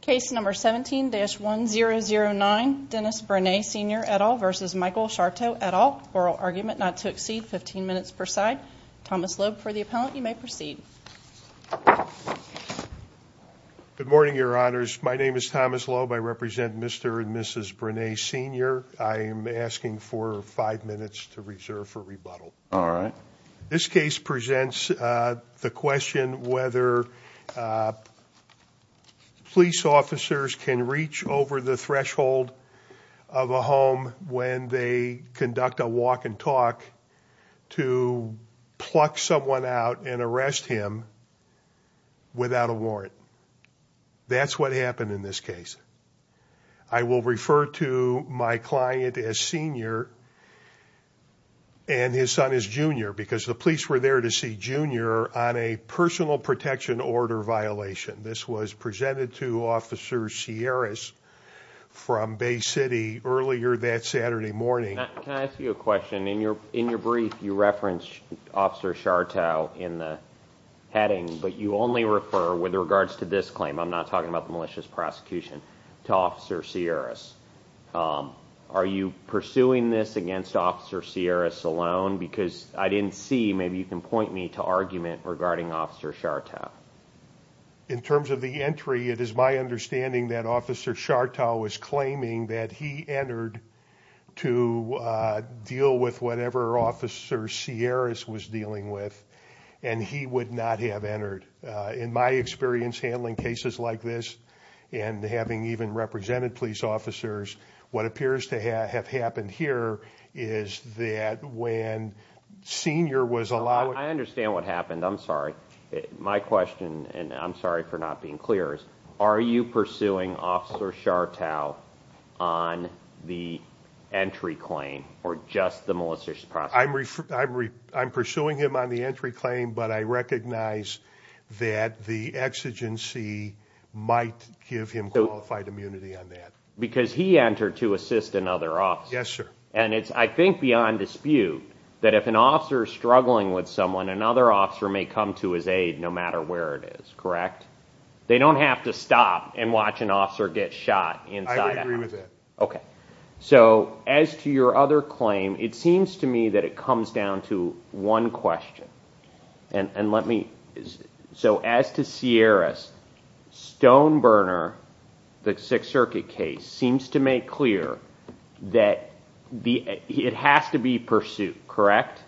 Case number 17-1009, Dennis Brenay Sr. et al. v. Michael Schartow et al. Oral argument not to exceed 15 minutes per side. Thomas Loeb for the appellant. You may proceed. Good morning, Your Honors. My name is Thomas Loeb. I represent Mr. and Mrs. Brenay Sr. I am asking for five minutes to reserve for rebuttal. All right. This case presents the question whether police officers can reach over the threshold of a home when they conduct a walk and talk to pluck someone out and arrest him without a warrant. That's what happened in this case. I will refer to my client as Sr. and his son as Jr. because the police were there to see Jr. on a personal protection order violation. This was presented to Officer Sierras from Bay City earlier that Saturday morning. Can I ask you a question? In your brief, you referenced Officer Schartow in the heading, but you only refer with regards to this claim. I'm not talking about the malicious prosecution to Officer Sierras. Are you pursuing this against Officer Sierras alone? Because I didn't see, maybe you can point me to argument regarding Officer Schartow. In terms of the entry, it is my understanding that Officer Schartow was claiming that he entered to deal with whatever Officer Sierras was dealing with, and he would not have entered. In my experience handling cases like this, and having even represented police officers, what appears to have happened here is that when Sr. was allowed... I understand what happened. I'm sorry. My question, and I'm sorry for not being clear, is are you pursuing Officer Schartow on the entry claim or just the malicious prosecution? I'm pursuing him on the entry claim, but I recognize that the exigency might give him qualified immunity on that. Because he entered to assist another officer. Yes, sir. And it's, I think, beyond dispute that if an officer is struggling with someone, another officer may come to his aid no matter where it is, correct? They don't have to stop and watch an officer get shot inside a house. I would agree with that. Okay, so as to your other claim, it seems to me that it comes down to one question. And let me... So as to Sierras, Stoneburner, the Sixth Circuit case, seems to make clear that it has to be pursuit, correct?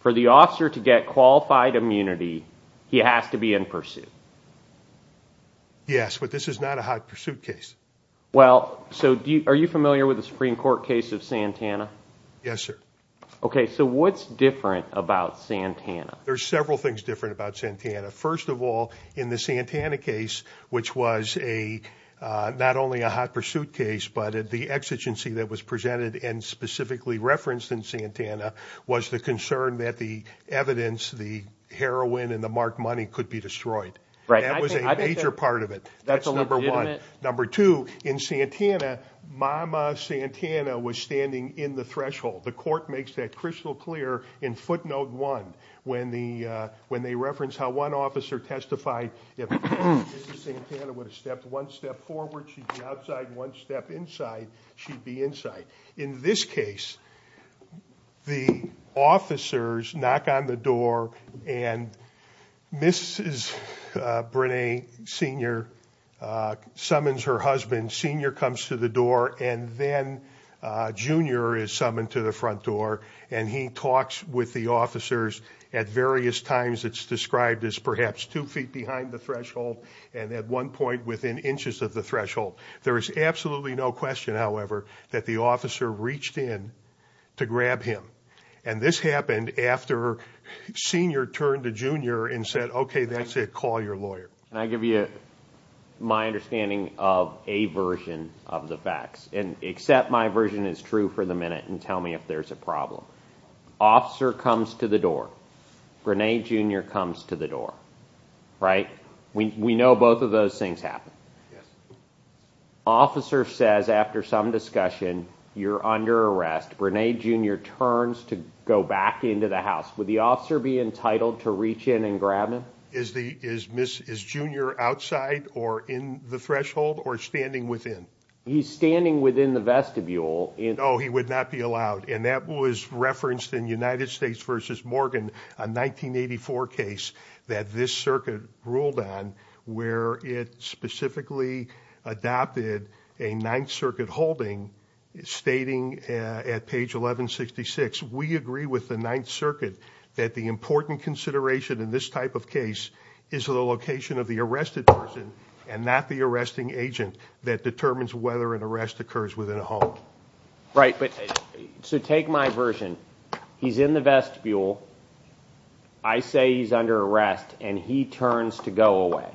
For the officer to get qualified immunity, he has to be in pursuit. Yes, but this is not a high-pursuit case. Well, so are you familiar with the Supreme Court case of Santana? Yes, sir. Okay, so what's different about Santana? There's several things different about Santana. First of all, in the Santana case, which was not only a high-pursuit case, but the exigency that was presented and specifically referenced in Santana, was the concern that the evidence, the heroin and the marked money could be destroyed. Right. That was a major part of it. That's a legitimate... Number two, in Santana, Mama Santana was standing in the threshold. The court makes that crystal clear in footnote one when they reference how one officer testified if Mrs. Santana would have stepped one step forward, she'd be outside, one step inside, she'd be inside. In this case, the officers knock on the door, and Mrs. Brené Sr. summons her husband. Sr. comes to the door, and then Jr. is summoned to the front door, and he talks with the officers at various times. It's described as perhaps two feet behind the threshold and at one point within inches of the threshold. There is absolutely no question, however, that the officer reached in to grab him. And this happened after Sr. turned to Jr. and said, okay, that's it, call your lawyer. Can I give you my understanding of a version of the facts? And accept my version is true for the minute and tell me if there's a problem. Officer comes to the door. Brené Jr. comes to the door. Right? We know both of those things happen. Officer says after some discussion, you're under arrest. Brené Jr. turns to go back into the house. Would the officer be entitled to reach in and grab him? Is Jr. outside or in the threshold or standing within? He's standing within the vestibule. No, he would not be allowed. And that was referenced in United States v. Morgan, a 1984 case that this circuit ruled on, where it specifically adopted a Ninth Circuit holding stating at page 1166, we agree with the Ninth Circuit that the important consideration in this type of case is the location of the arrested person and not the arresting agent that determines whether an arrest occurs within a home. Right. But so take my version. He's in the vestibule. I say he's under arrest, and he turns to go away.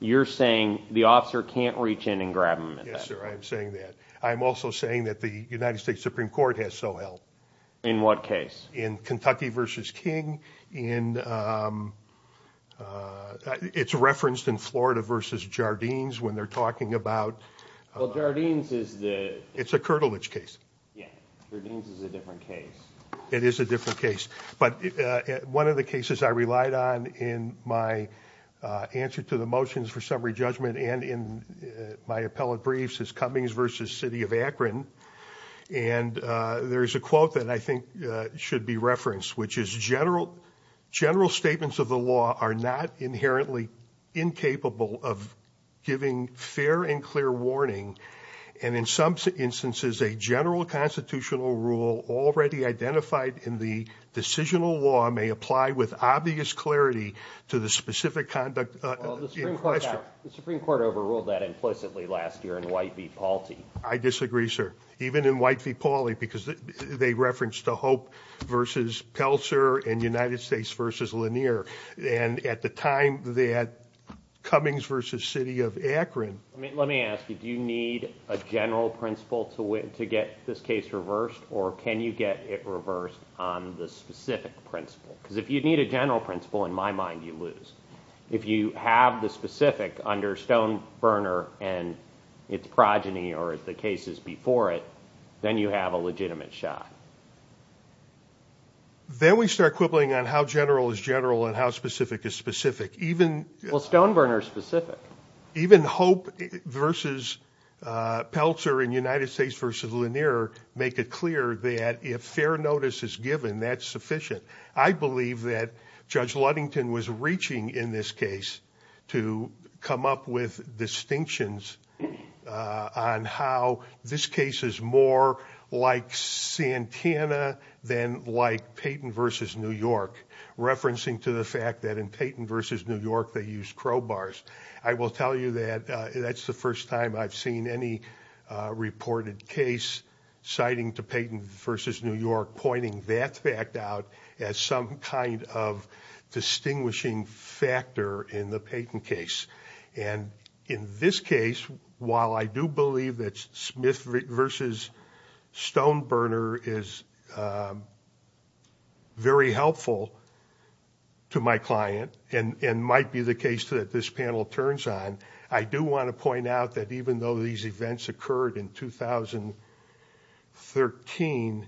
You're saying the officer can't reach in and grab him. Yes, sir. I'm saying that. I'm also saying that the United States Supreme Court has so held. In what case? In Kentucky v. King. It's referenced in Florida v. Jardines when they're talking about – Well, Jardines is the – It's a Kirtlewich case. Yeah. Jardines is a different case. It is a different case. But one of the cases I relied on in my answer to the motions for summary judgment and in my appellate briefs is Cummings v. City of Akron. And there's a quote that I think should be referenced, which is, General statements of the law are not inherently incapable of giving fair and clear warning. And in some instances, a general constitutional rule already identified in the decisional law may apply with obvious clarity to the specific conduct in question. Well, the Supreme Court overruled that implicitly last year in White v. Pauly. I disagree, sir. Even in White v. Pauly, because they referenced the Hope v. Pelser and United States v. Lanier. And at the time that Cummings v. City of Akron – Let me ask you, do you need a general principle to get this case reversed? Or can you get it reversed on the specific principle? Because if you need a general principle, in my mind, you lose. If you have the specific under Stoneberner and its progeny or the cases before it, then you have a legitimate shot. Then we start quibbling on how general is general and how specific is specific. Well, Stoneberner is specific. Even Hope v. Pelser and United States v. Lanier make it clear that if fair notice is given, that's sufficient. I believe that Judge Ludington was reaching in this case to come up with distinctions on how this case is more like Santana than like Payton v. New York, referencing to the fact that in Payton v. New York, they used crowbars. I will tell you that that's the first time I've seen any reported case citing to Payton v. New York pointing that fact out as some kind of distinguishing factor in the Payton case. In this case, while I do believe that Smith v. Stoneberner is very helpful to my client and might be the case that this panel turns on, I do want to point out that even though these events occurred in 2013,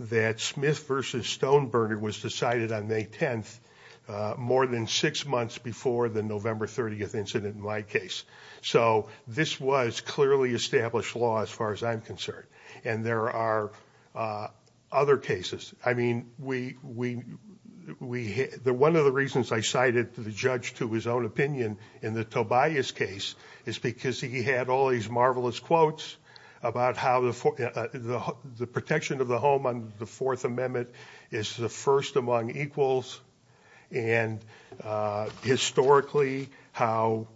that Smith v. Stoneberner was decided on May 10th, more than six months before the November 30th incident in my case. So this was clearly established law as far as I'm concerned. And there are other cases. I mean, one of the reasons I cited the judge to his own opinion in the Tobias case is because he had all these marvelous quotes about how the protection of the home under the Fourth Amendment is the first among equals and historically how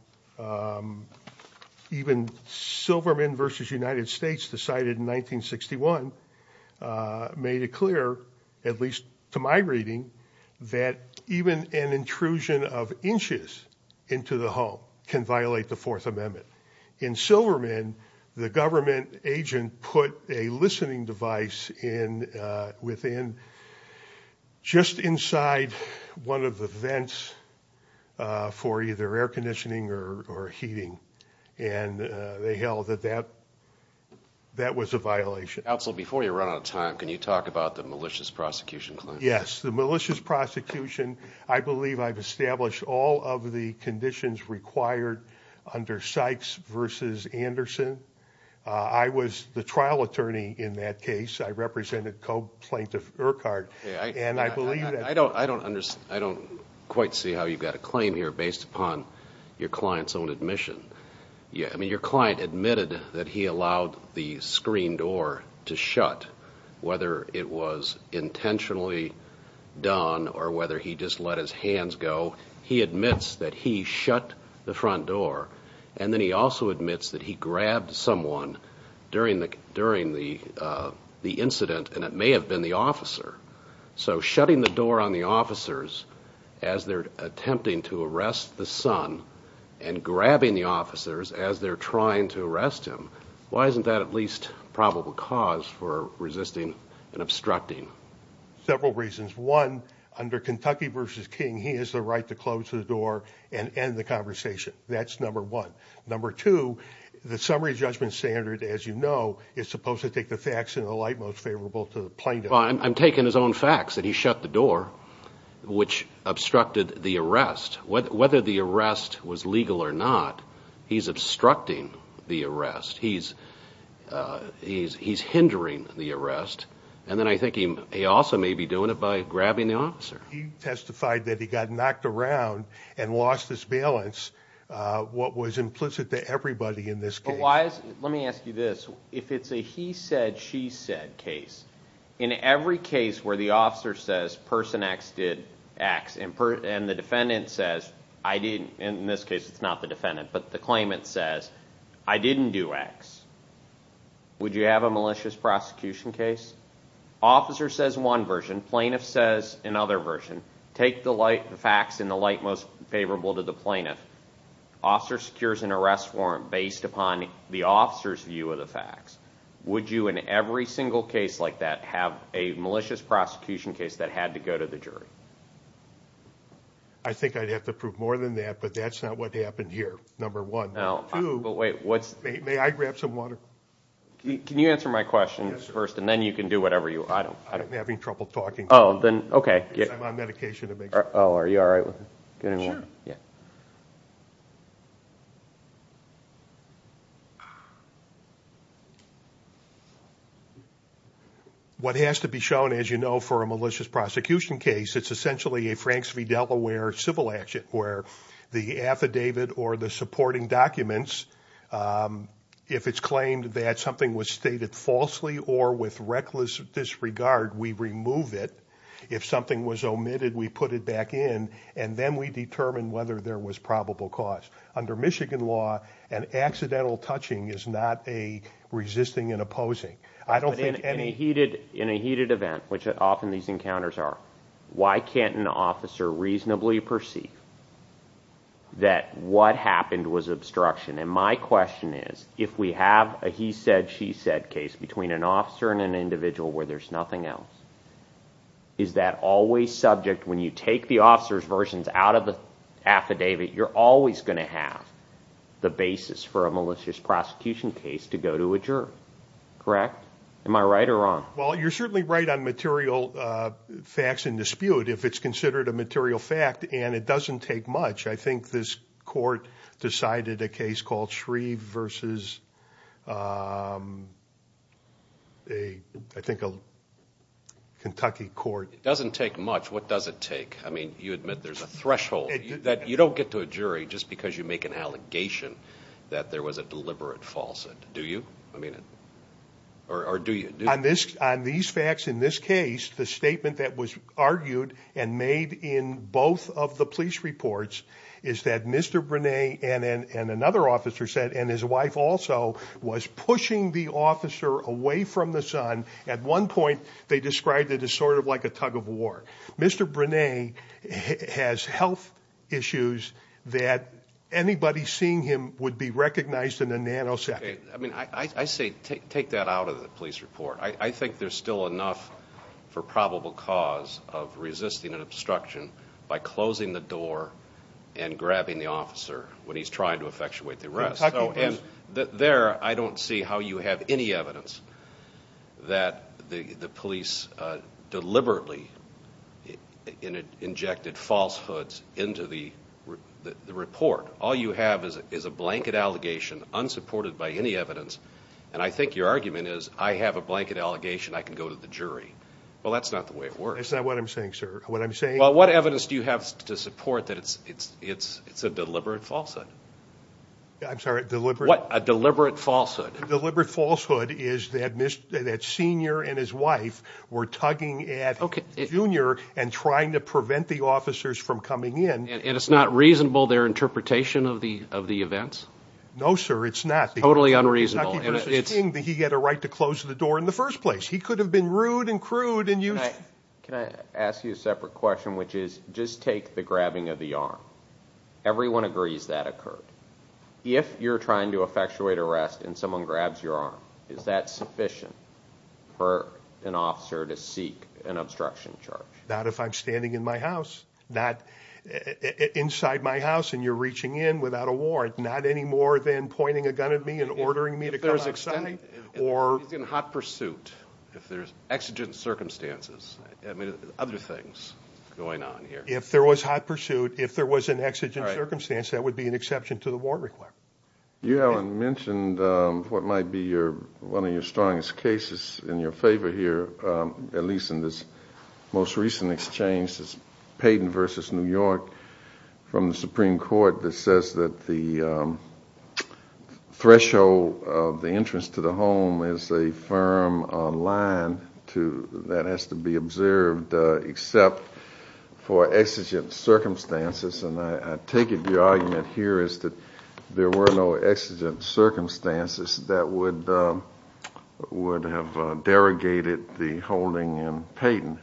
even Silverman v. United States decided in 1961 made it clear, at least to my reading, that even an intrusion of inches into the home can violate the Fourth Amendment. In Silverman, the government agent put a listening device within just inside one of the vents for either air conditioning or heating. And they held that that was a violation. Counsel, before you run out of time, can you talk about the malicious prosecution claim? Yes, the malicious prosecution. I believe I've established all of the conditions required under Sykes v. Anderson. I was the trial attorney in that case. I represented co-plaintiff Urquhart. I don't quite see how you've got a claim here based upon your client's own admission. I mean, your client admitted that he allowed the screen door to shut, whether it was intentionally done or whether he just let his hands go. He admits that he shut the front door. And then he also admits that he grabbed someone during the incident, and it may have been the officer. So shutting the door on the officers as they're attempting to arrest the son and grabbing the officers as they're trying to arrest him, why isn't that at least probable cause for resisting and obstructing? Several reasons. One, under Kentucky v. King, he has the right to close the door and end the conversation. That's number one. Number two, the summary judgment standard, as you know, is supposed to take the facts in the light most favorable to the plaintiff. I'm taking his own facts, that he shut the door, which obstructed the arrest. Whether the arrest was legal or not, he's obstructing the arrest. He's hindering the arrest. And then I think he also may be doing it by grabbing the officer. He testified that he got knocked around and lost his balance, what was implicit to everybody in this case. Let me ask you this. If it's a he said, she said case, in every case where the officer says person X did X, and the defendant says I didn't, in this case it's not the defendant, but the claimant says I didn't do X, would you have a malicious prosecution case? Officer says one version. Plaintiff says another version. Take the facts in the light most favorable to the plaintiff. Officer secures an arrest warrant based upon the officer's view of the facts. Would you in every single case like that have a malicious prosecution case that had to go to the jury? I think I'd have to prove more than that, but that's not what happened here, number one. Number two, may I grab some water? Can you answer my question first, and then you can do whatever you want. I'm having trouble talking because I'm on medication. Oh, are you all right? Sure. What has to be shown, as you know, for a malicious prosecution case, it's essentially a Franks v. Delaware civil action where the affidavit or the supporting documents, if it's claimed that something was stated falsely or with reckless disregard, we remove it. If something was omitted, we put it back in, and then we determine whether there was probable cause. Under Michigan law, an accidental touching is not a resisting and opposing. In a heated event, which often these encounters are, why can't an officer reasonably perceive that what happened was obstruction? And my question is, if we have a he said, she said case between an officer and an individual where there's nothing else, is that always subject when you take the officer's versions out of the affidavit, you're always going to have the basis for a malicious prosecution case to go to a juror, correct? Am I right or wrong? Well, you're certainly right on material facts in dispute, if it's considered a material fact and it doesn't take much. I think this court decided a case called Shreve versus a, I think, a Kentucky court. It doesn't take much. What does it take? I mean, you admit there's a threshold that you don't get to a jury just because you make an allegation that there was a deliberate falsehood. Do you? I mean, or do you? On this, on these facts in this case, the statement that was argued and made in both of the police reports is that Mr. Brunet and another officer said, and his wife also was pushing the officer away from the son. At one point they described it as sort of like a tug of war. Mr. Brunet has health issues that anybody seeing him would be recognized in a nanosecond. I mean, I say take that out of the police report. I think there's still enough for probable cause of resisting an obstruction by closing the door and grabbing the officer when he's trying to effectuate the arrest. There, I don't see how you have any evidence that the police deliberately injected falsehoods into the report. All you have is is a blanket allegation unsupported by any evidence. And I think your argument is I have a blanket allegation. I can go to the jury. Well, that's not the way it works. That's not what I'm saying, sir. What I'm saying. Well, what evidence do you have to support that? It's it's it's it's a deliberate falsehood. I'm sorry, deliberate deliberate falsehood. Deliberate falsehood is that that senior and his wife were tugging at Junior and trying to prevent the officers from coming in. And it's not reasonable their interpretation of the of the events. No, sir, it's not totally unreasonable. It's that he had a right to close the door in the first place. He could have been rude and crude and you can ask you a separate question, which is just take the grabbing of the arm. Everyone agrees that occurred. If you're trying to effectuate arrest and someone grabs your arm, is that sufficient for an officer to seek an obstruction charge? Not if I'm standing in my house, not inside my house. And you're reaching in without a warrant, not any more than pointing a gun at me and ordering me to. Or in hot pursuit, if there's exigent circumstances, I mean, other things going on here. If there was hot pursuit, if there was an exigent circumstance, that would be an exception to the war. You haven't mentioned what might be your one of your strongest cases in your favor here, at least in this most recent exchange. It's Peyton versus New York from the Supreme Court that says that the threshold of the entrance to the home is a firm line to that has to be observed, except for exigent circumstances. And I take it the argument here is that there were no exigent circumstances that would have derogated the holding in Peyton.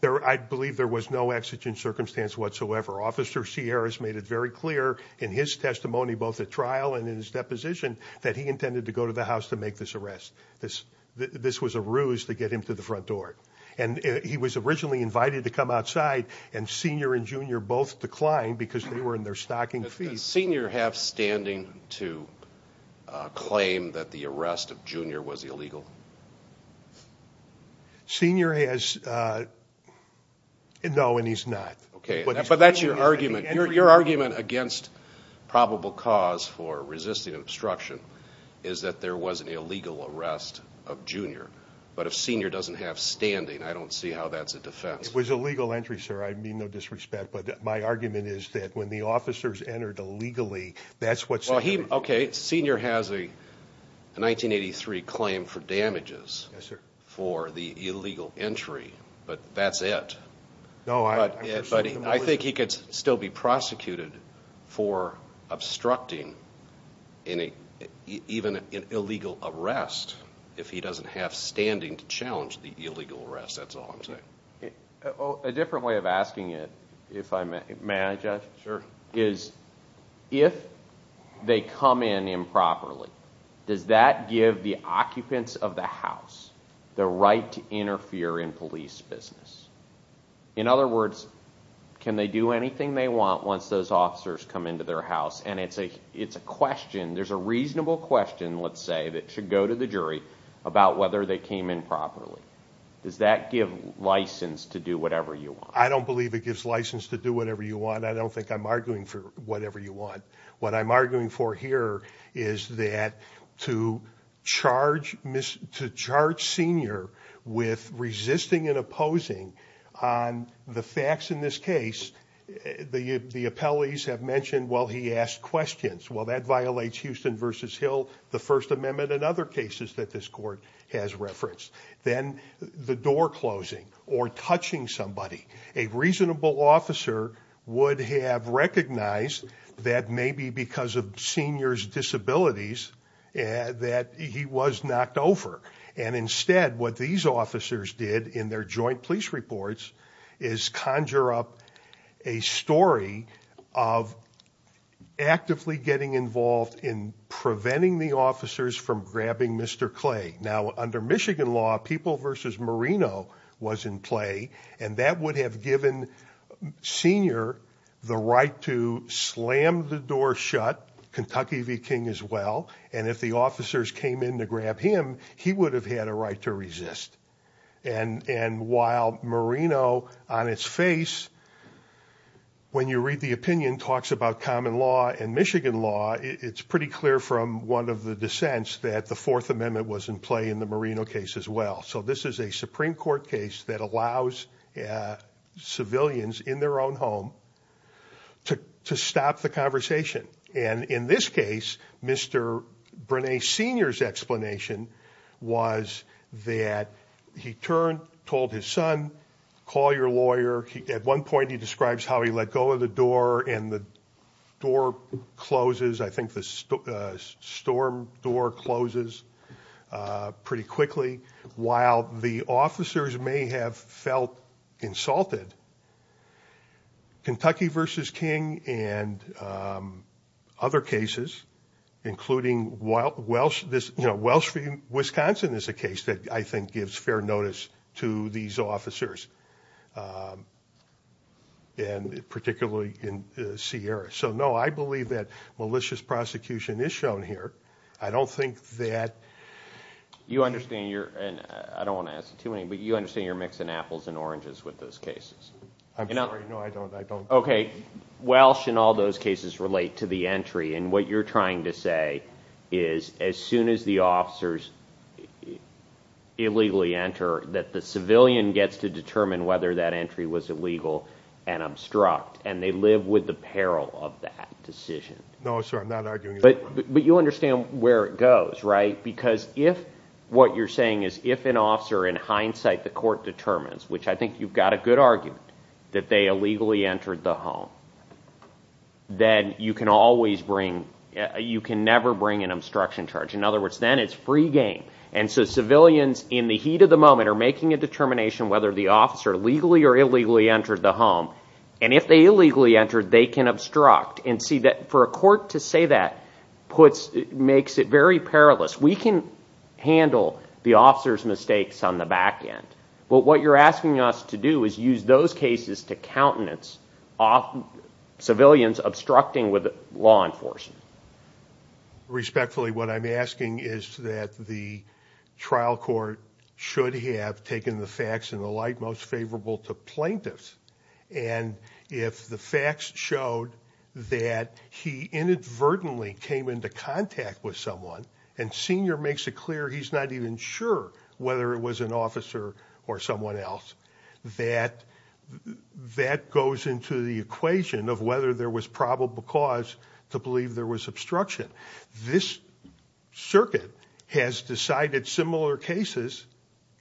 I believe there was no exigent circumstance whatsoever. Officer Sierras made it very clear in his testimony, both at trial and in his deposition, that he intended to go to the house to make this arrest. This was a ruse to get him to the front door. And he was originally invited to come outside, and Senior and Junior both declined because they were in their stocking feet. Does Senior have standing to claim that the arrest of Junior was illegal? Senior has no, and he's not. But that's your argument. Your argument against probable cause for resisting obstruction is that there was an illegal arrest of Junior. But if Senior doesn't have standing, I don't see how that's a defense. It was a legal entry, sir. I mean no disrespect. But my argument is that when the officers entered illegally, that's what Senior did. Okay, Senior has a 1983 claim for damages for the illegal entry, but that's it. But I think he could still be prosecuted for obstructing even an illegal arrest if he doesn't have standing to challenge the illegal arrest, that's all I'm saying. A different way of asking it, if I may, may I judge? Sure. If they come in improperly, does that give the occupants of the house the right to interfere in police business? In other words, can they do anything they want once those officers come into their house? And it's a question, there's a reasonable question, let's say, that should go to the jury about whether they came in properly. Does that give license to do whatever you want? I don't believe it gives license to do whatever you want. I don't think I'm arguing for whatever you want. What I'm arguing for here is that to charge Senior with resisting and opposing on the facts in this case, the appellees have mentioned, well, he asked questions. Well, that violates Houston v. Hill, the First Amendment, and other cases that this court has referenced. Then the door closing or touching somebody. A reasonable officer would have recognized that maybe because of Senior's disabilities that he was knocked over. And instead, what these officers did in their joint police reports is conjure up a story of actively getting involved in preventing the officers from grabbing Mr. Clay. Now, under Michigan law, People v. Marino was in play, and that would have given Senior the right to slam the door shut, Kentucky v. King as well, and if the officers came in to grab him, he would have had a right to resist. And while Marino, on its face, when you read the opinion, talks about common law and Michigan law, it's pretty clear from one of the dissents that the Fourth Amendment was in play in the Marino case as well. So this is a Supreme Court case that allows civilians in their own home to stop the conversation. And in this case, Mr. Brené Senior's explanation was that he turned, told his son, call your lawyer. At one point, he describes how he let go of the door and the door closes. I think the storm door closes pretty quickly. While the officers may have felt insulted, Kentucky v. King and other cases, including Welsh v. Wisconsin, is a case that I think gives fair notice to these officers, and particularly in Sierra. So, no, I believe that malicious prosecution is shown here. I don't think that... You understand you're, and I don't want to ask too many, but you understand you're mixing apples and oranges with those cases. I'm sorry, no, I don't. Okay, Welsh and all those cases relate to the entry, and what you're trying to say is as soon as the officers illegally enter, that the civilian gets to determine whether that entry was illegal and obstruct, and they live with the peril of that decision. No, sir, I'm not arguing that. But you understand where it goes, right? Because if what you're saying is if an officer, in hindsight, the court determines, which I think you've got a good argument, that they illegally entered the home, then you can always bring, you can never bring an obstruction charge. In other words, then it's free game. And so civilians in the heat of the moment are making a determination whether the officer legally or illegally entered the home, and if they illegally entered, they can obstruct. And for a court to say that makes it very perilous. We can handle the officer's mistakes on the back end. But what you're asking us to do is use those cases to countenance civilians obstructing with law enforcement. Respectfully, what I'm asking is that the trial court should have taken the facts in the light most favorable to plaintiffs and if the facts showed that he inadvertently came into contact with someone and Senior makes it clear he's not even sure whether it was an officer or someone else, that that goes into the equation of whether there was probable cause to believe there was obstruction. This circuit has decided similar cases,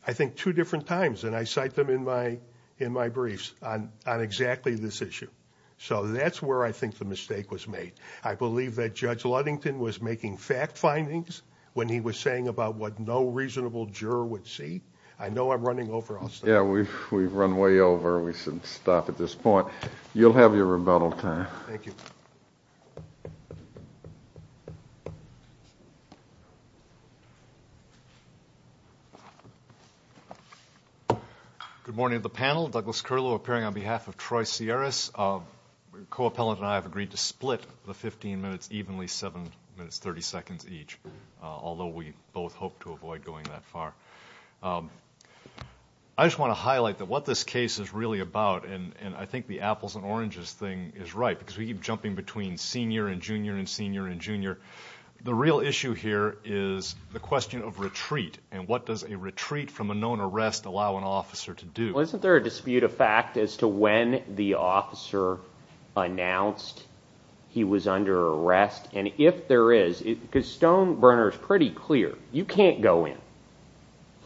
I think, two different times, and I cite them in my briefs on exactly this issue. So that's where I think the mistake was made. I believe that Judge Ludington was making fact findings when he was saying about what no reasonable juror would see. I know I'm running over. Yeah, we've run way over. We should stop at this point. You'll have your rebuttal time. Thank you. Thank you. Good morning to the panel. Douglas Curlow appearing on behalf of Troy Sierras. The co-appellant and I have agreed to split the 15 minutes evenly, seven minutes, 30 seconds each, although we both hope to avoid going that far. I just want to highlight that what this case is really about, and I think the apples and oranges thing is right because we keep jumping between senior and junior and senior and junior. The real issue here is the question of retreat and what does a retreat from a known arrest allow an officer to do. Well, isn't there a dispute of fact as to when the officer announced he was under arrest? And if there is, because Stonebrenner is pretty clear, you can't go in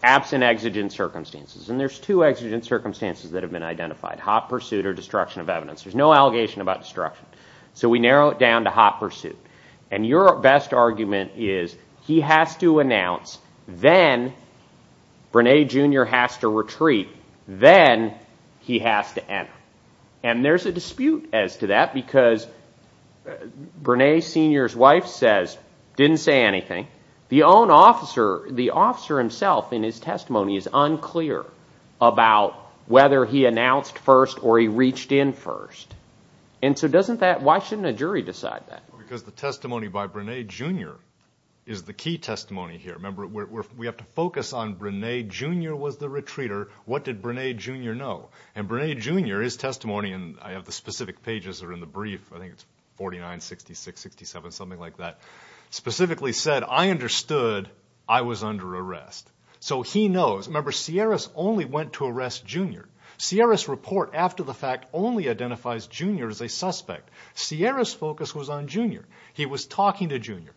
absent exigent circumstances, and there's two exigent circumstances that have been identified, hot pursuit or destruction of evidence. There's no allegation about destruction. So we narrow it down to hot pursuit. And your best argument is he has to announce, then Brene, Jr. has to retreat, then he has to enter. And there's a dispute as to that because Brene, Sr.'s wife says, didn't say anything. The officer himself in his testimony is unclear about whether he announced first or he reached in first. And so why shouldn't a jury decide that? Because the testimony by Brene, Jr. is the key testimony here. Remember, we have to focus on Brene, Jr. was the retreater. What did Brene, Jr. know? And Brene, Jr., his testimony, and I have the specific pages that are in the brief, I think it's 49, 66, 67, something like that, specifically said, I understood I was under arrest. So he knows. Remember, Sierras only went to arrest Jr. Sierras' report after the fact only identifies Jr. as a suspect. Sierras' focus was on Jr. He was talking to Jr.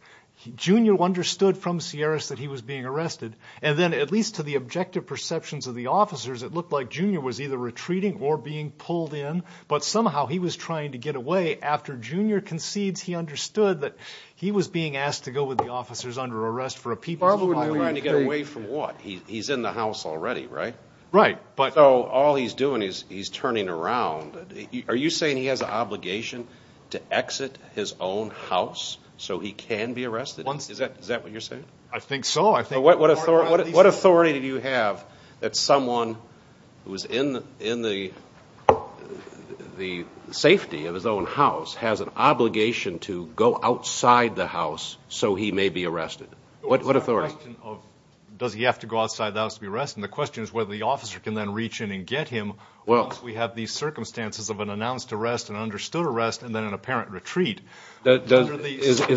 Jr. understood from Sierras that he was being arrested. And then at least to the objective perceptions of the officers, it looked like Jr. was either retreating or being pulled in. But somehow he was trying to get away. After Jr. concedes, he understood that he was being asked to go with the officers under arrest for a people's violation. Trying to get away from what? He's in the house already, right? Right. So all he's doing is he's turning around. Are you saying he has an obligation to exit his own house so he can be arrested? Is that what you're saying? I think so. What authority do you have that someone who is in the safety of his own house has an obligation to go outside the house so he may be arrested? What authority? It's a question of does he have to go outside the house to be arrested. And the question is whether the officer can then reach in and get him once we have these circumstances of an announced arrest, an understood arrest, and then an apparent retreat. Is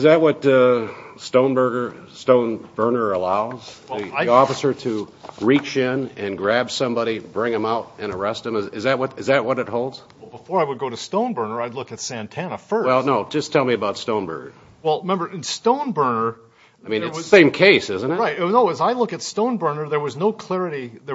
that what Stoneburner allows? The officer to reach in and grab somebody, bring them out, and arrest them? Is that what it holds? Before I would go to Stoneburner, I'd look at Santana first. Well, no. Just tell me about Stoneburner. Well, remember, in Stoneburner— I mean, it's the same case, isn't it? Right. No, as I look at Stoneburner, there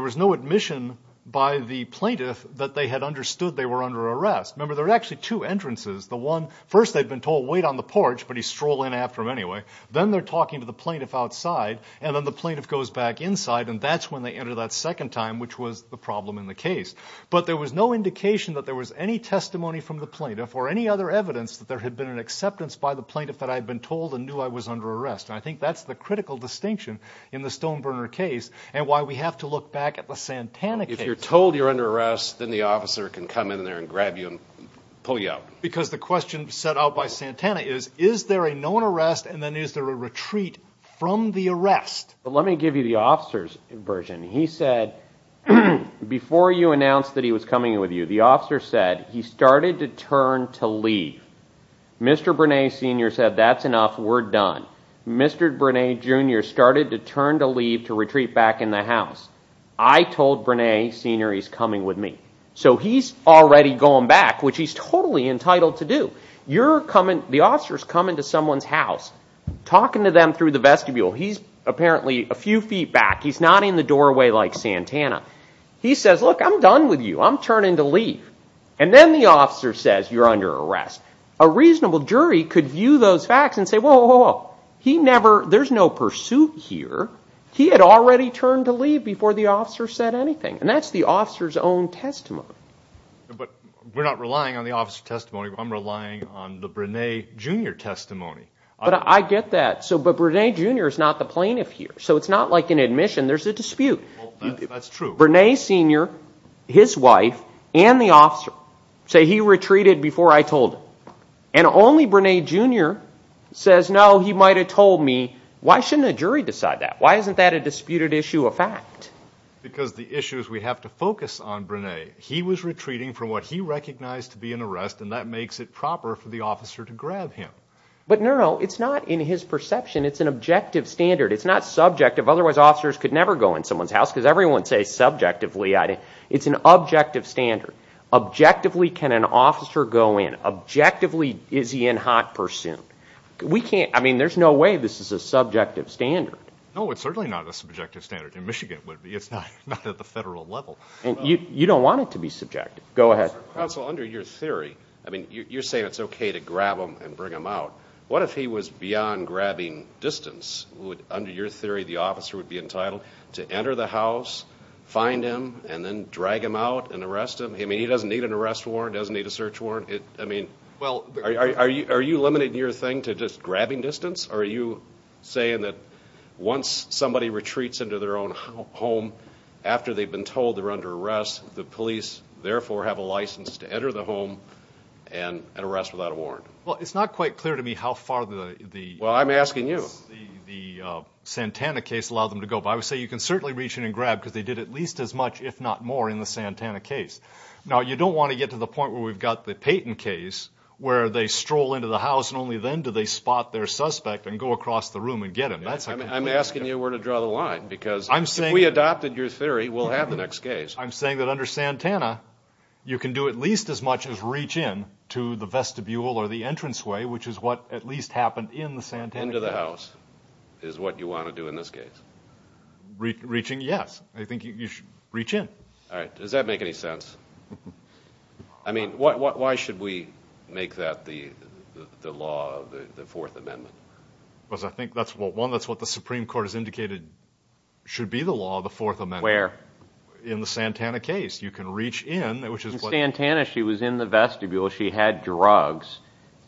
was no admission by the plaintiff that they had understood they were under arrest. Remember, there were actually two entrances. The one, first they'd been told, wait on the porch, but he'd stroll in after them anyway. Then they're talking to the plaintiff outside, and then the plaintiff goes back inside, and that's when they enter that second time, which was the problem in the case. But there was no indication that there was any testimony from the plaintiff or any other evidence that there had been an acceptance by the plaintiff that I had been told and knew I was under arrest. And I think that's the critical distinction in the Stoneburner case and why we have to look back at the Santana case. If you're told you're under arrest, then the officer can come in there and grab you and pull you out. Because the question set out by Santana is, is there a known arrest and then is there a retreat from the arrest? Let me give you the officer's version. He said, before you announced that he was coming with you, the officer said he started to turn to leave. Mr. Brunais, Sr. said that's enough, we're done. Mr. Brunais, Jr. started to turn to leave to retreat back in the house. I told Brunais, Sr. he's coming with me. So he's already going back, which he's totally entitled to do. The officer's coming to someone's house, talking to them through the vestibule. He's apparently a few feet back. He's nodding the doorway like Santana. He says, look, I'm done with you. I'm turning to leave. And then the officer says you're under arrest. A reasonable jury could view those facts and say, whoa, whoa, whoa. There's no pursuit here. He had already turned to leave before the officer said anything. And that's the officer's own testimony. But we're not relying on the officer's testimony. I'm relying on the Brunais, Jr. testimony. But I get that. But Brunais, Jr. is not the plaintiff here. So it's not like an admission. There's a dispute. That's true. Brunais, Sr., his wife, and the officer say he retreated before I told him. And only Brunais, Jr. says, no, he might have told me. Why shouldn't a jury decide that? Why isn't that a disputed issue of fact? Because the issue is we have to focus on Brunais. He was retreating from what he recognized to be an arrest, and that makes it proper for the officer to grab him. But, no, no, it's not in his perception. It's an objective standard. It's not subjective. Otherwise, officers could never go in someone's house, because everyone says subjectively. It's an objective standard. Objectively, can an officer go in? Objectively, is he in hot pursuit? I mean, there's no way this is a subjective standard. No, it's certainly not a subjective standard. In Michigan, it would be. It's not at the federal level. You don't want it to be subjective. Go ahead. Counsel, under your theory, I mean, you're saying it's okay to grab him and bring him out. What if he was beyond grabbing distance? Under your theory, the officer would be entitled to enter the house, find him, and then drag him out and arrest him? I mean, he doesn't need an arrest warrant, doesn't need a search warrant? I mean, are you limiting your thing to just grabbing distance? Are you saying that once somebody retreats into their own home, after they've been told they're under arrest, the police therefore have a license to enter the home and arrest without a warrant? Well, it's not quite clear to me how far the Santana case allowed them to go. But I would say you can certainly reach in and grab, because they did at least as much, if not more, in the Santana case. Now, you don't want to get to the point where we've got the Payton case, where they stroll into the house and only then do they spot their suspect and go across the room and get him. I'm asking you where to draw the line, because if we adopted your theory, we'll have the next case. I'm saying that under Santana, you can do at least as much as reach in to the vestibule or the entranceway, which is what at least happened in the Santana case. Into the house is what you want to do in this case. Reaching, yes. I think you should reach in. All right. Does that make any sense? I mean, why should we make that the law of the Fourth Amendment? Because I think, one, that's what the Supreme Court has indicated should be the law of the Fourth Amendment. Where? In the Santana case. You can reach in. In Santana, she was in the vestibule. She had drugs.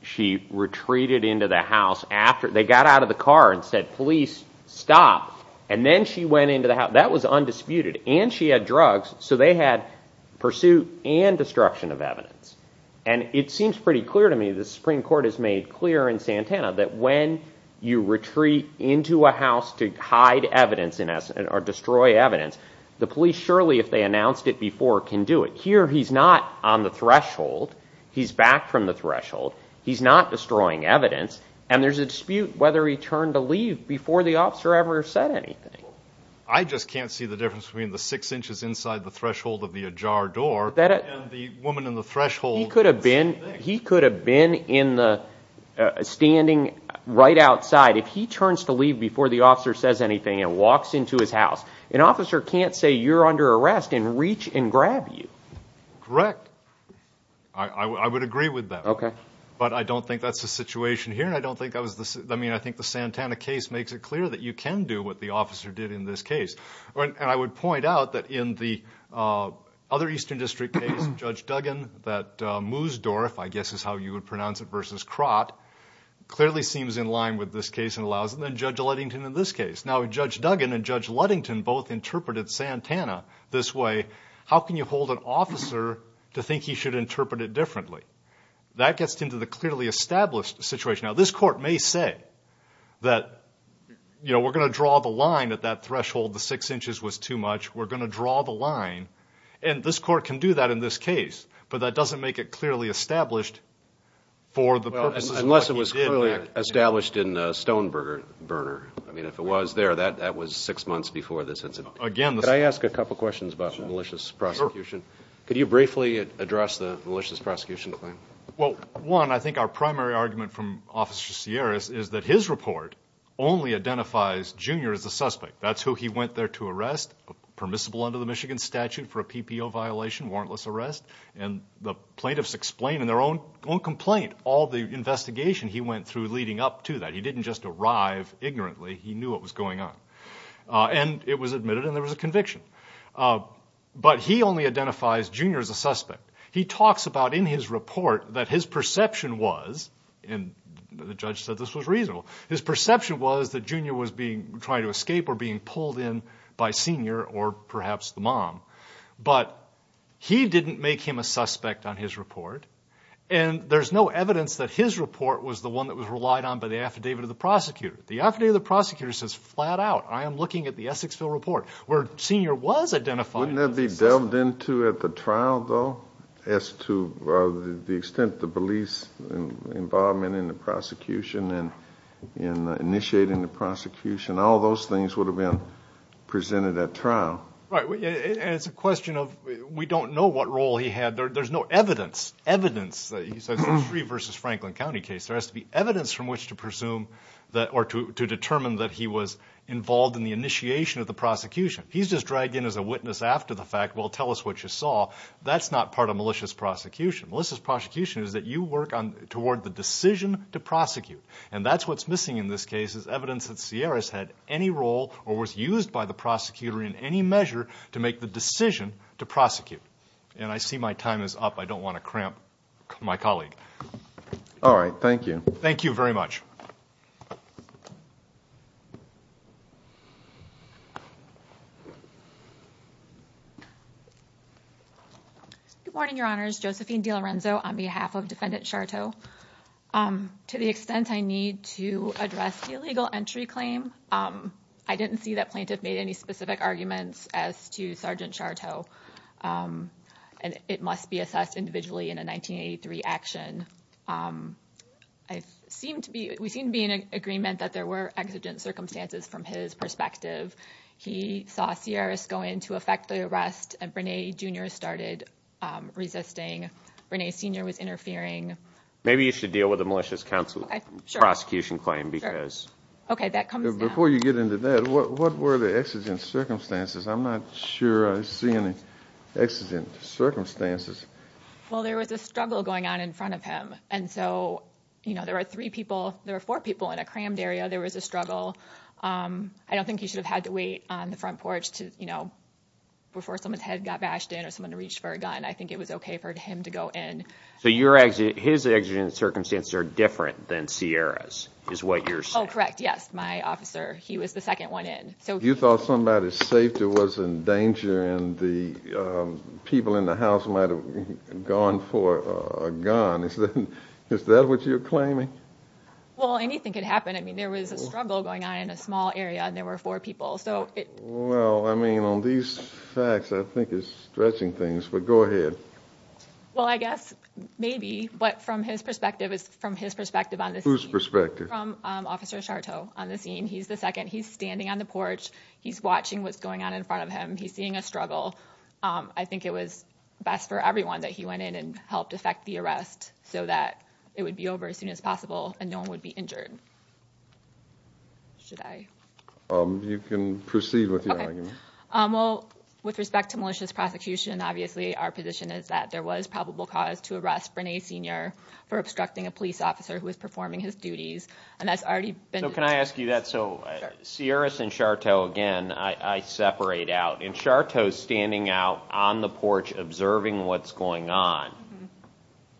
She retreated into the house. They got out of the car and said, police, stop. And then she went into the house. That was undisputed. And she had drugs, so they had pursuit and destruction of evidence. And it seems pretty clear to me, the Supreme Court has made clear in Santana, that when you retreat into a house to hide evidence or destroy evidence, the police surely, if they announced it before, can do it. Here, he's not on the threshold. He's back from the threshold. He's not destroying evidence. And there's a dispute whether he turned to leave before the officer ever said anything. I just can't see the difference between the six inches inside the threshold of the ajar door and the woman in the threshold. He could have been standing right outside. If he turns to leave before the officer says anything and walks into his house, an officer can't say you're under arrest and reach and grab you. Correct. I would agree with that. But I don't think that's the situation here. I think the Santana case makes it clear that you can do what the officer did in this case. And I would point out that in the other Eastern District case, Judge Duggan, that Musdorff, I guess is how you would pronounce it, versus Crott, clearly seems in line with this case and allows it. And then Judge Ludington in this case. Now, Judge Duggan and Judge Ludington both interpreted Santana this way. How can you hold an officer to think he should interpret it differently? That gets into the clearly established situation. Now, this court may say that, you know, we're going to draw the line at that threshold. The six inches was too much. We're going to draw the line. And this court can do that in this case, but that doesn't make it clearly established for the purposes of what he did. Unless it was clearly established in Stoneburner. I mean, if it was there, that was six months before this incident. Could I ask a couple questions about malicious prosecution? Sure. Could you briefly address the malicious prosecution claim? Well, one, I think our primary argument from Officer Sierras is that his report only identifies Junior as a suspect. That's who he went there to arrest, permissible under the Michigan statute for a PPO violation, warrantless arrest. And the plaintiffs explain in their own complaint all the investigation he went through leading up to that. He didn't just arrive ignorantly. He knew what was going on. And it was admitted, and there was a conviction. But he only identifies Junior as a suspect. He talks about in his report that his perception was, and the judge said this was reasonable, his perception was that Junior was being tried to escape or being pulled in by Senior or perhaps the mom. But he didn't make him a suspect on his report. And there's no evidence that his report was the one that was relied on by the affidavit of the prosecutor. The affidavit of the prosecutor says flat out, I am looking at the Essexville report, where Senior was identified. Wouldn't that be delved into at the trial, though, as to the extent of the police involvement in the prosecution and in initiating the prosecution? All those things would have been presented at trial. Right. And it's a question of we don't know what role he had. There's no evidence, evidence, he says, in the Free v. Franklin County case. There has to be evidence from which to presume or to determine that he was involved in the initiation of the prosecution. He's just dragged in as a witness after the fact. Well, tell us what you saw. That's not part of malicious prosecution. Malicious prosecution is that you work toward the decision to prosecute. And that's what's missing in this case is evidence that Sierras had any role or was used by the prosecutor in any measure to make the decision to prosecute. And I see my time is up. I don't want to cramp my colleague. All right. Thank you. Thank you very much. Good morning, Your Honors. Josephine DiLorenzo on behalf of Defendant Charteau. To the extent I need to address the illegal entry claim, I didn't see that plaintiff made any specific arguments as to Sergeant Charteau. And it must be assessed individually in a 1983 action. We seem to be in agreement that there were exigent circumstances from his perspective. He saw Sierras go in to effect the arrest, and Brene, Jr. started resisting. Brene, Sr. was interfering. Maybe you should deal with the malicious prosecution claim. Okay, that comes down. Before you get into that, what were the exigent circumstances? I'm not sure I see any exigent circumstances. Well, there was a struggle going on in front of him. And so, you know, there were three people. There were four people in a crammed area. There was a struggle. I don't think he should have had to wait on the front porch to, you know, before someone's head got bashed in or someone reached for a gun. I think it was okay for him to go in. So his exigent circumstances are different than Sierra's is what you're saying? Oh, correct, yes. My officer, he was the second one in. You thought somebody's safety was in danger and the people in the house might have gone for a gun. Is that what you're claiming? Well, anything could happen. I mean, there was a struggle going on in a small area, and there were four people. Well, I mean, on these facts, I think it's stretching things. But go ahead. Well, I guess maybe. But from his perspective, it's from his perspective on the scene. Whose perspective? From Officer Chateau on the scene. He's the second. He's standing on the porch. He's watching what's going on in front of him. He's seeing a struggle. I think it was best for everyone that he went in and helped effect the arrest so that it would be over as soon as possible and no one would be injured. Should I? You can proceed with your argument. Okay. Well, with respect to malicious prosecution, obviously our position is that there was probable cause to arrest Brene Sr. for obstructing a police officer who was performing his duties, and that's already been determined. So can I ask you that? So Sierras and Chateau, again, I separate out. And Chateau's standing out on the porch observing what's going on.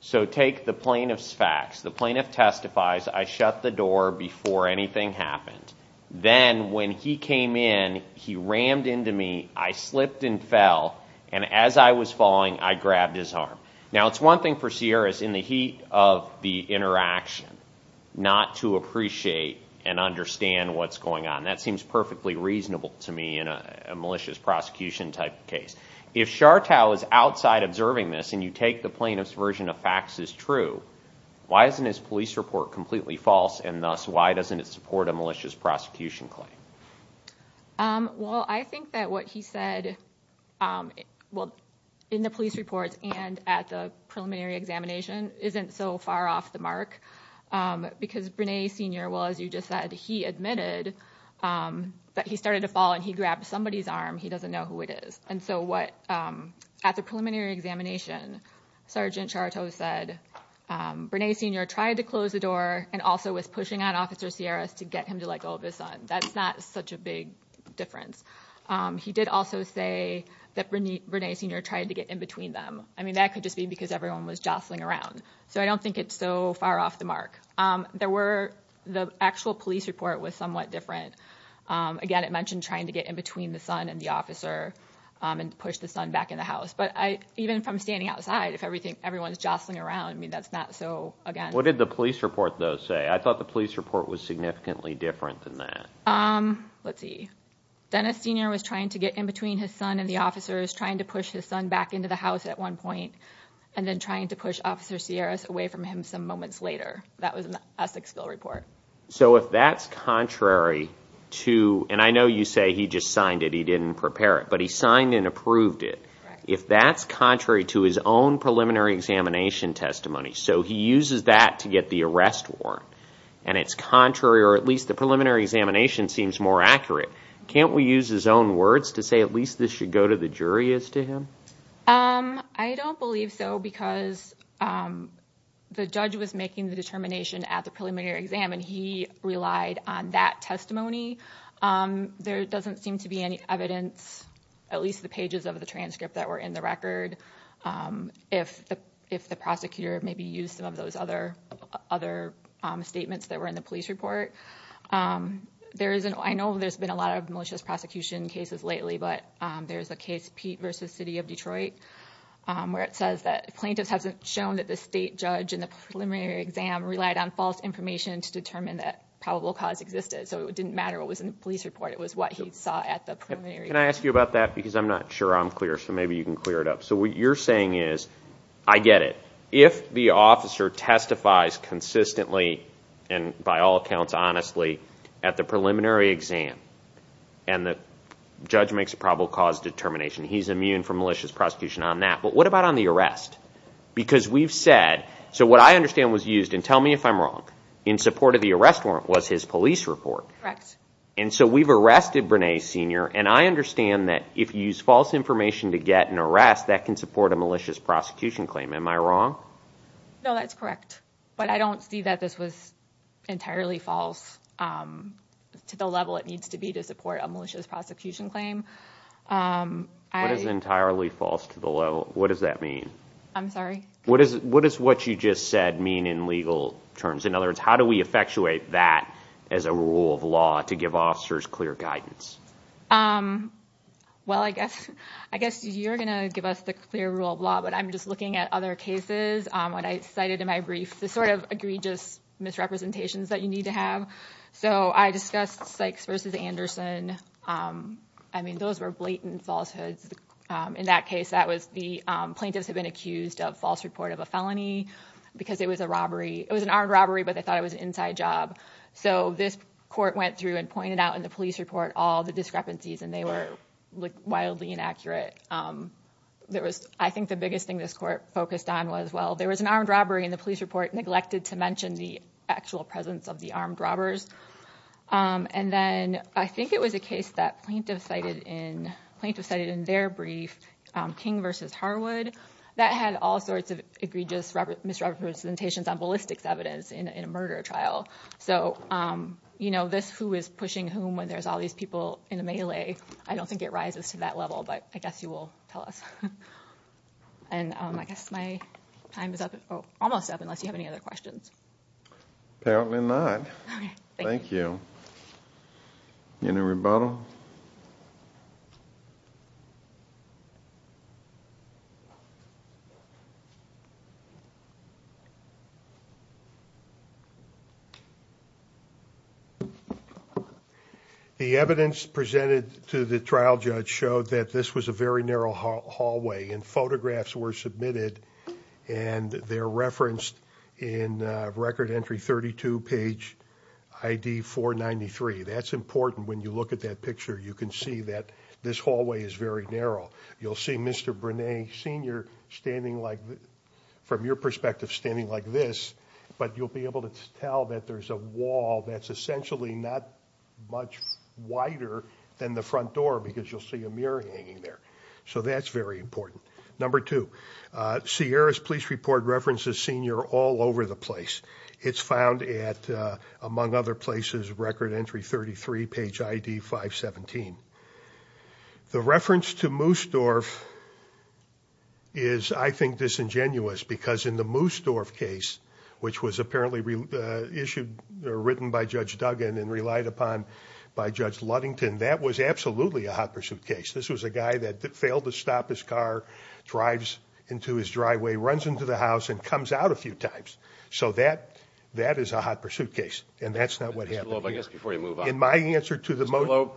So take the plaintiff's facts. The plaintiff testifies, I shut the door before anything happened. Then when he came in, he rammed into me, I slipped and fell, and as I was falling, I grabbed his arm. Now, it's one thing for Sierras in the heat of the interaction, not to appreciate and understand what's going on. That seems perfectly reasonable to me in a malicious prosecution type case. If Chateau is outside observing this and you take the plaintiff's version of facts as true, why isn't his police report completely false, and thus why doesn't it support a malicious prosecution claim? Well, I think that what he said in the police reports and at the preliminary examination isn't so far off the mark because Brene Senior, well, as you just said, he admitted that he started to fall and he grabbed somebody's arm. He doesn't know who it is. And so at the preliminary examination, Sergeant Chateau said, Brene Senior tried to close the door and also was pushing on Officer Sierras to get him to let go of his son. That's not such a big difference. He did also say that Brene Senior tried to get in between them. I mean, that could just be because everyone was jostling around. So I don't think it's so far off the mark. The actual police report was somewhat different. Again, it mentioned trying to get in between the son and the officer and push the son back in the house. But even from standing outside, if everyone's jostling around, I mean, that's not so, again— What did the police report, though, say? I thought the police report was significantly different than that. Let's see. Dennis Senior was trying to get in between his son and the officers, trying to push his son back into the house at one point, and then trying to push Officer Sierras away from him some moments later. That was in the Essexville report. So if that's contrary to— and I know you say he just signed it, he didn't prepare it, but he signed and approved it. If that's contrary to his own preliminary examination testimony, so he uses that to get the arrest warrant, and it's contrary, or at least the preliminary examination seems more accurate, can't we use his own words to say at least this should go to the jury as to him? I don't believe so because the judge was making the determination at the preliminary exam, and he relied on that testimony. There doesn't seem to be any evidence, at least the pages of the transcript that were in the record, if the prosecutor maybe used some of those other statements that were in the police report. I know there's been a lot of malicious prosecution cases lately, but there's a case, Pete v. City of Detroit, where it says that plaintiffs have shown that the state judge in the preliminary exam relied on false information to determine that probable cause existed. So it didn't matter what was in the police report. It was what he saw at the preliminary exam. Can I ask you about that? Because I'm not sure I'm clear, so maybe you can clear it up. So what you're saying is, I get it. If the officer testifies consistently, and by all accounts honestly, at the preliminary exam, and the judge makes a probable cause determination, he's immune from malicious prosecution on that. But what about on the arrest? Because we've said, so what I understand was used, and tell me if I'm wrong, in support of the arrest warrant was his police report. Correct. And so we've arrested Brene Senior, and I understand that if you use false information to get an arrest, that can support a malicious prosecution claim. Am I wrong? No, that's correct. But I don't see that this was entirely false to the level it needs to be to support a malicious prosecution claim. What is entirely false to the level? What does that mean? I'm sorry? What does what you just said mean in legal terms? In other words, how do we effectuate that as a rule of law to give officers clear guidance? Well, I guess you're going to give us the clear rule of law, but I'm just looking at other cases. What I cited in my brief, the sort of egregious misrepresentations that you need to have. So I discussed Sykes v. Anderson. I mean, those were blatant falsehoods. In that case, the plaintiffs had been accused of false report of a felony because it was a robbery. It was an armed robbery, but they thought it was an inside job. So this court went through and pointed out in the police report all the discrepancies, and they were wildly inaccurate. I think the biggest thing this court focused on was, well, there was an armed robbery, and the police report neglected to mention the actual presence of the armed robbers. And then I think it was a case that plaintiffs cited in their brief, King v. Harwood, that had all sorts of egregious misrepresentations on ballistics evidence in a murder trial. So this who is pushing whom when there's all these people in the melee, I don't think it rises to that level, but I guess you will tell us. And I guess my time is almost up unless you have any other questions. Apparently not. Thank you. Any rebuttal? The evidence presented to the trial judge showed that this was a very narrow hallway, and photographs were submitted, and they're referenced in Record Entry 32, page ID 493. That's important. When you look at that picture, you can see that this hallway is very narrow. You'll see Mr. Brunet, Sr. standing like this, from your perspective, standing like this, but you'll be able to tell that there's a wall that's essentially not much wider than the front door because you'll see a mirror hanging there. So that's very important. Number two, Sierra's police report references Sr. all over the place. It's found at, among other places, Record Entry 33, page ID 517. The reference to Moosdorf is, I think, disingenuous because in the Moosdorf case, which was apparently issued or written by Judge Duggan and relied upon by Judge Ludington, that was absolutely a hot pursuit case. This was a guy that failed to stop his car, drives into his driveway, runs into the house, and comes out a few times. So that is a hot pursuit case, and that's not what happened here. Mr. Gloeb, I guess before you move on. In my answer to the motion— Mr.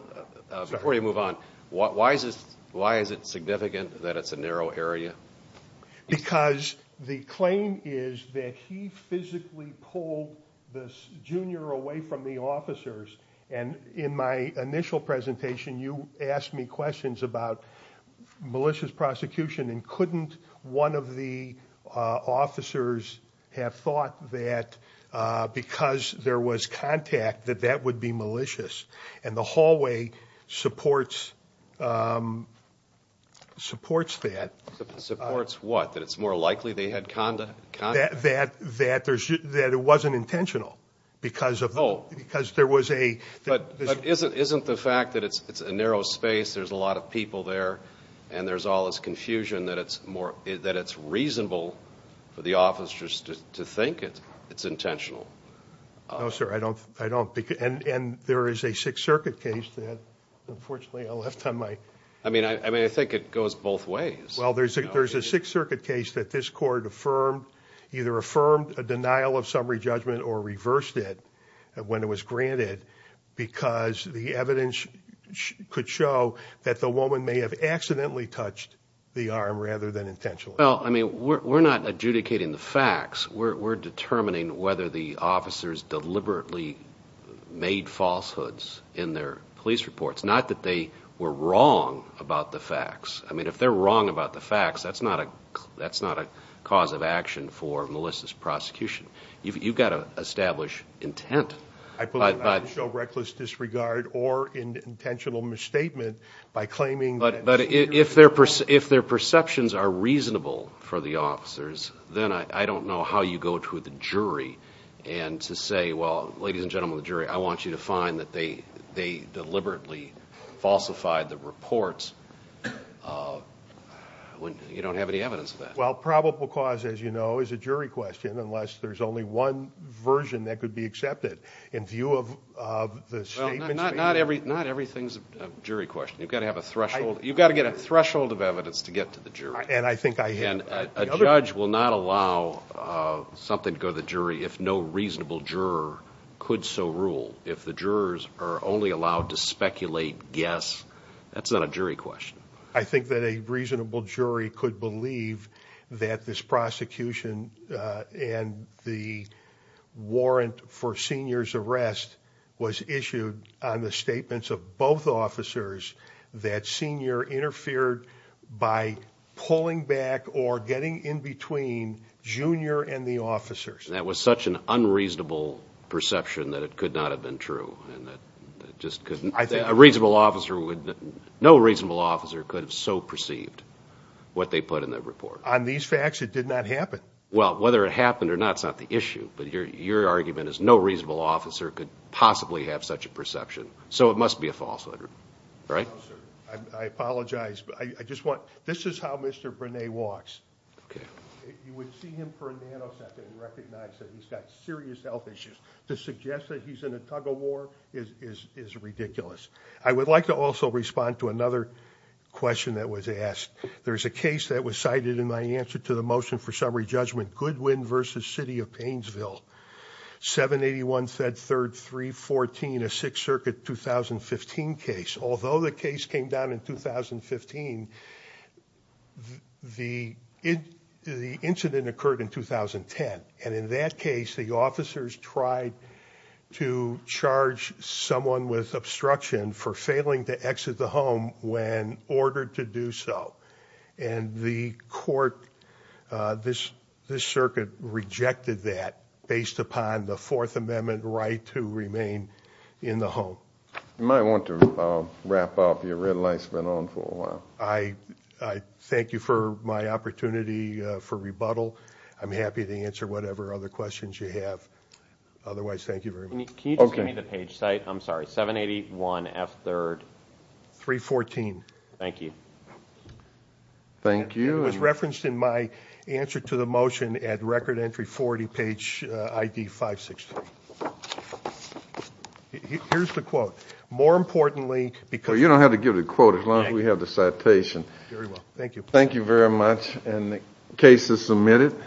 Gloeb, before you move on, why is it significant that it's a narrow area? Because the claim is that he physically pulled the junior away from the officers, and in my initial presentation, you asked me questions about malicious prosecution, and couldn't one of the officers have thought that because there was contact that that would be malicious? And the hallway supports that. Supports what? That it's more likely they had contact? That it wasn't intentional because there was a— But isn't the fact that it's a narrow space, there's a lot of people there, and there's all this confusion that it's reasonable for the officers to think it's intentional? No, sir, I don't. And there is a Sixth Circuit case that, unfortunately, I left on my— I mean, I think it goes both ways. Well, there's a Sixth Circuit case that this court affirmed, either affirmed a denial of summary judgment or reversed it when it was granted because the evidence could show that the woman may have accidentally touched the arm rather than intentionally. Well, I mean, we're not adjudicating the facts. We're determining whether the officers deliberately made falsehoods in their police reports, not that they were wrong about the facts. I mean, if they're wrong about the facts, that's not a cause of action for Melissa's prosecution. You've got to establish intent. I believe it doesn't show reckless disregard or intentional misstatement by claiming that— But if their perceptions are reasonable for the officers, then I don't know how you go to the jury and to say, well, ladies and gentlemen of the jury, I want you to find that they deliberately falsified the reports when you don't have any evidence of that. Well, probable cause, as you know, is a jury question unless there's only one version that could be accepted in view of the statements made. Well, not everything's a jury question. You've got to have a threshold. You've got to get a threshold of evidence to get to the jury. And I think I have. And a judge will not allow something to go to the jury if no reasonable juror could so rule. If the jurors are only allowed to speculate, guess, that's not a jury question. I think that a reasonable jury could believe that this prosecution and the warrant for Senior's arrest was issued on the statements of both officers that Senior interfered by pulling back or getting in between Junior and the officers. That was such an unreasonable perception that it could not have been true. No reasonable officer could have so perceived what they put in that report. On these facts, it did not happen. Well, whether it happened or not's not the issue, but your argument is no reasonable officer could possibly have such a perception. So it must be a falsehood, right? No, sir. I apologize. This is how Mr. Brene walks. You would see him for a nanosecond and recognize that he's got serious health issues. To suggest that he's in a tug-of-war is ridiculous. I would like to also respond to another question that was asked. There's a case that was cited in my answer to the motion for summary judgment, Goodwin v. City of Painesville, 781 Fed 3, 314, a Sixth Circuit 2015 case. Although the case came down in 2015, the incident occurred in 2010. And in that case, the officers tried to charge someone with obstruction for failing to exit the home when ordered to do so. And the court, this circuit rejected that based upon the Fourth Amendment right to remain in the home. You might want to wrap up. Your red light's been on for a while. I thank you for my opportunity for rebuttal. I'm happy to answer whatever other questions you have. Otherwise, thank you very much. Can you just give me the page site? I'm sorry, 781 F 3rd. 314. Thank you. Thank you. It was referenced in my answer to the motion at Record Entry 40, page ID 563. Here's the quote. You don't have to give the quote as long as we have the citation. Thank you. Thank you very much. The case is submitted.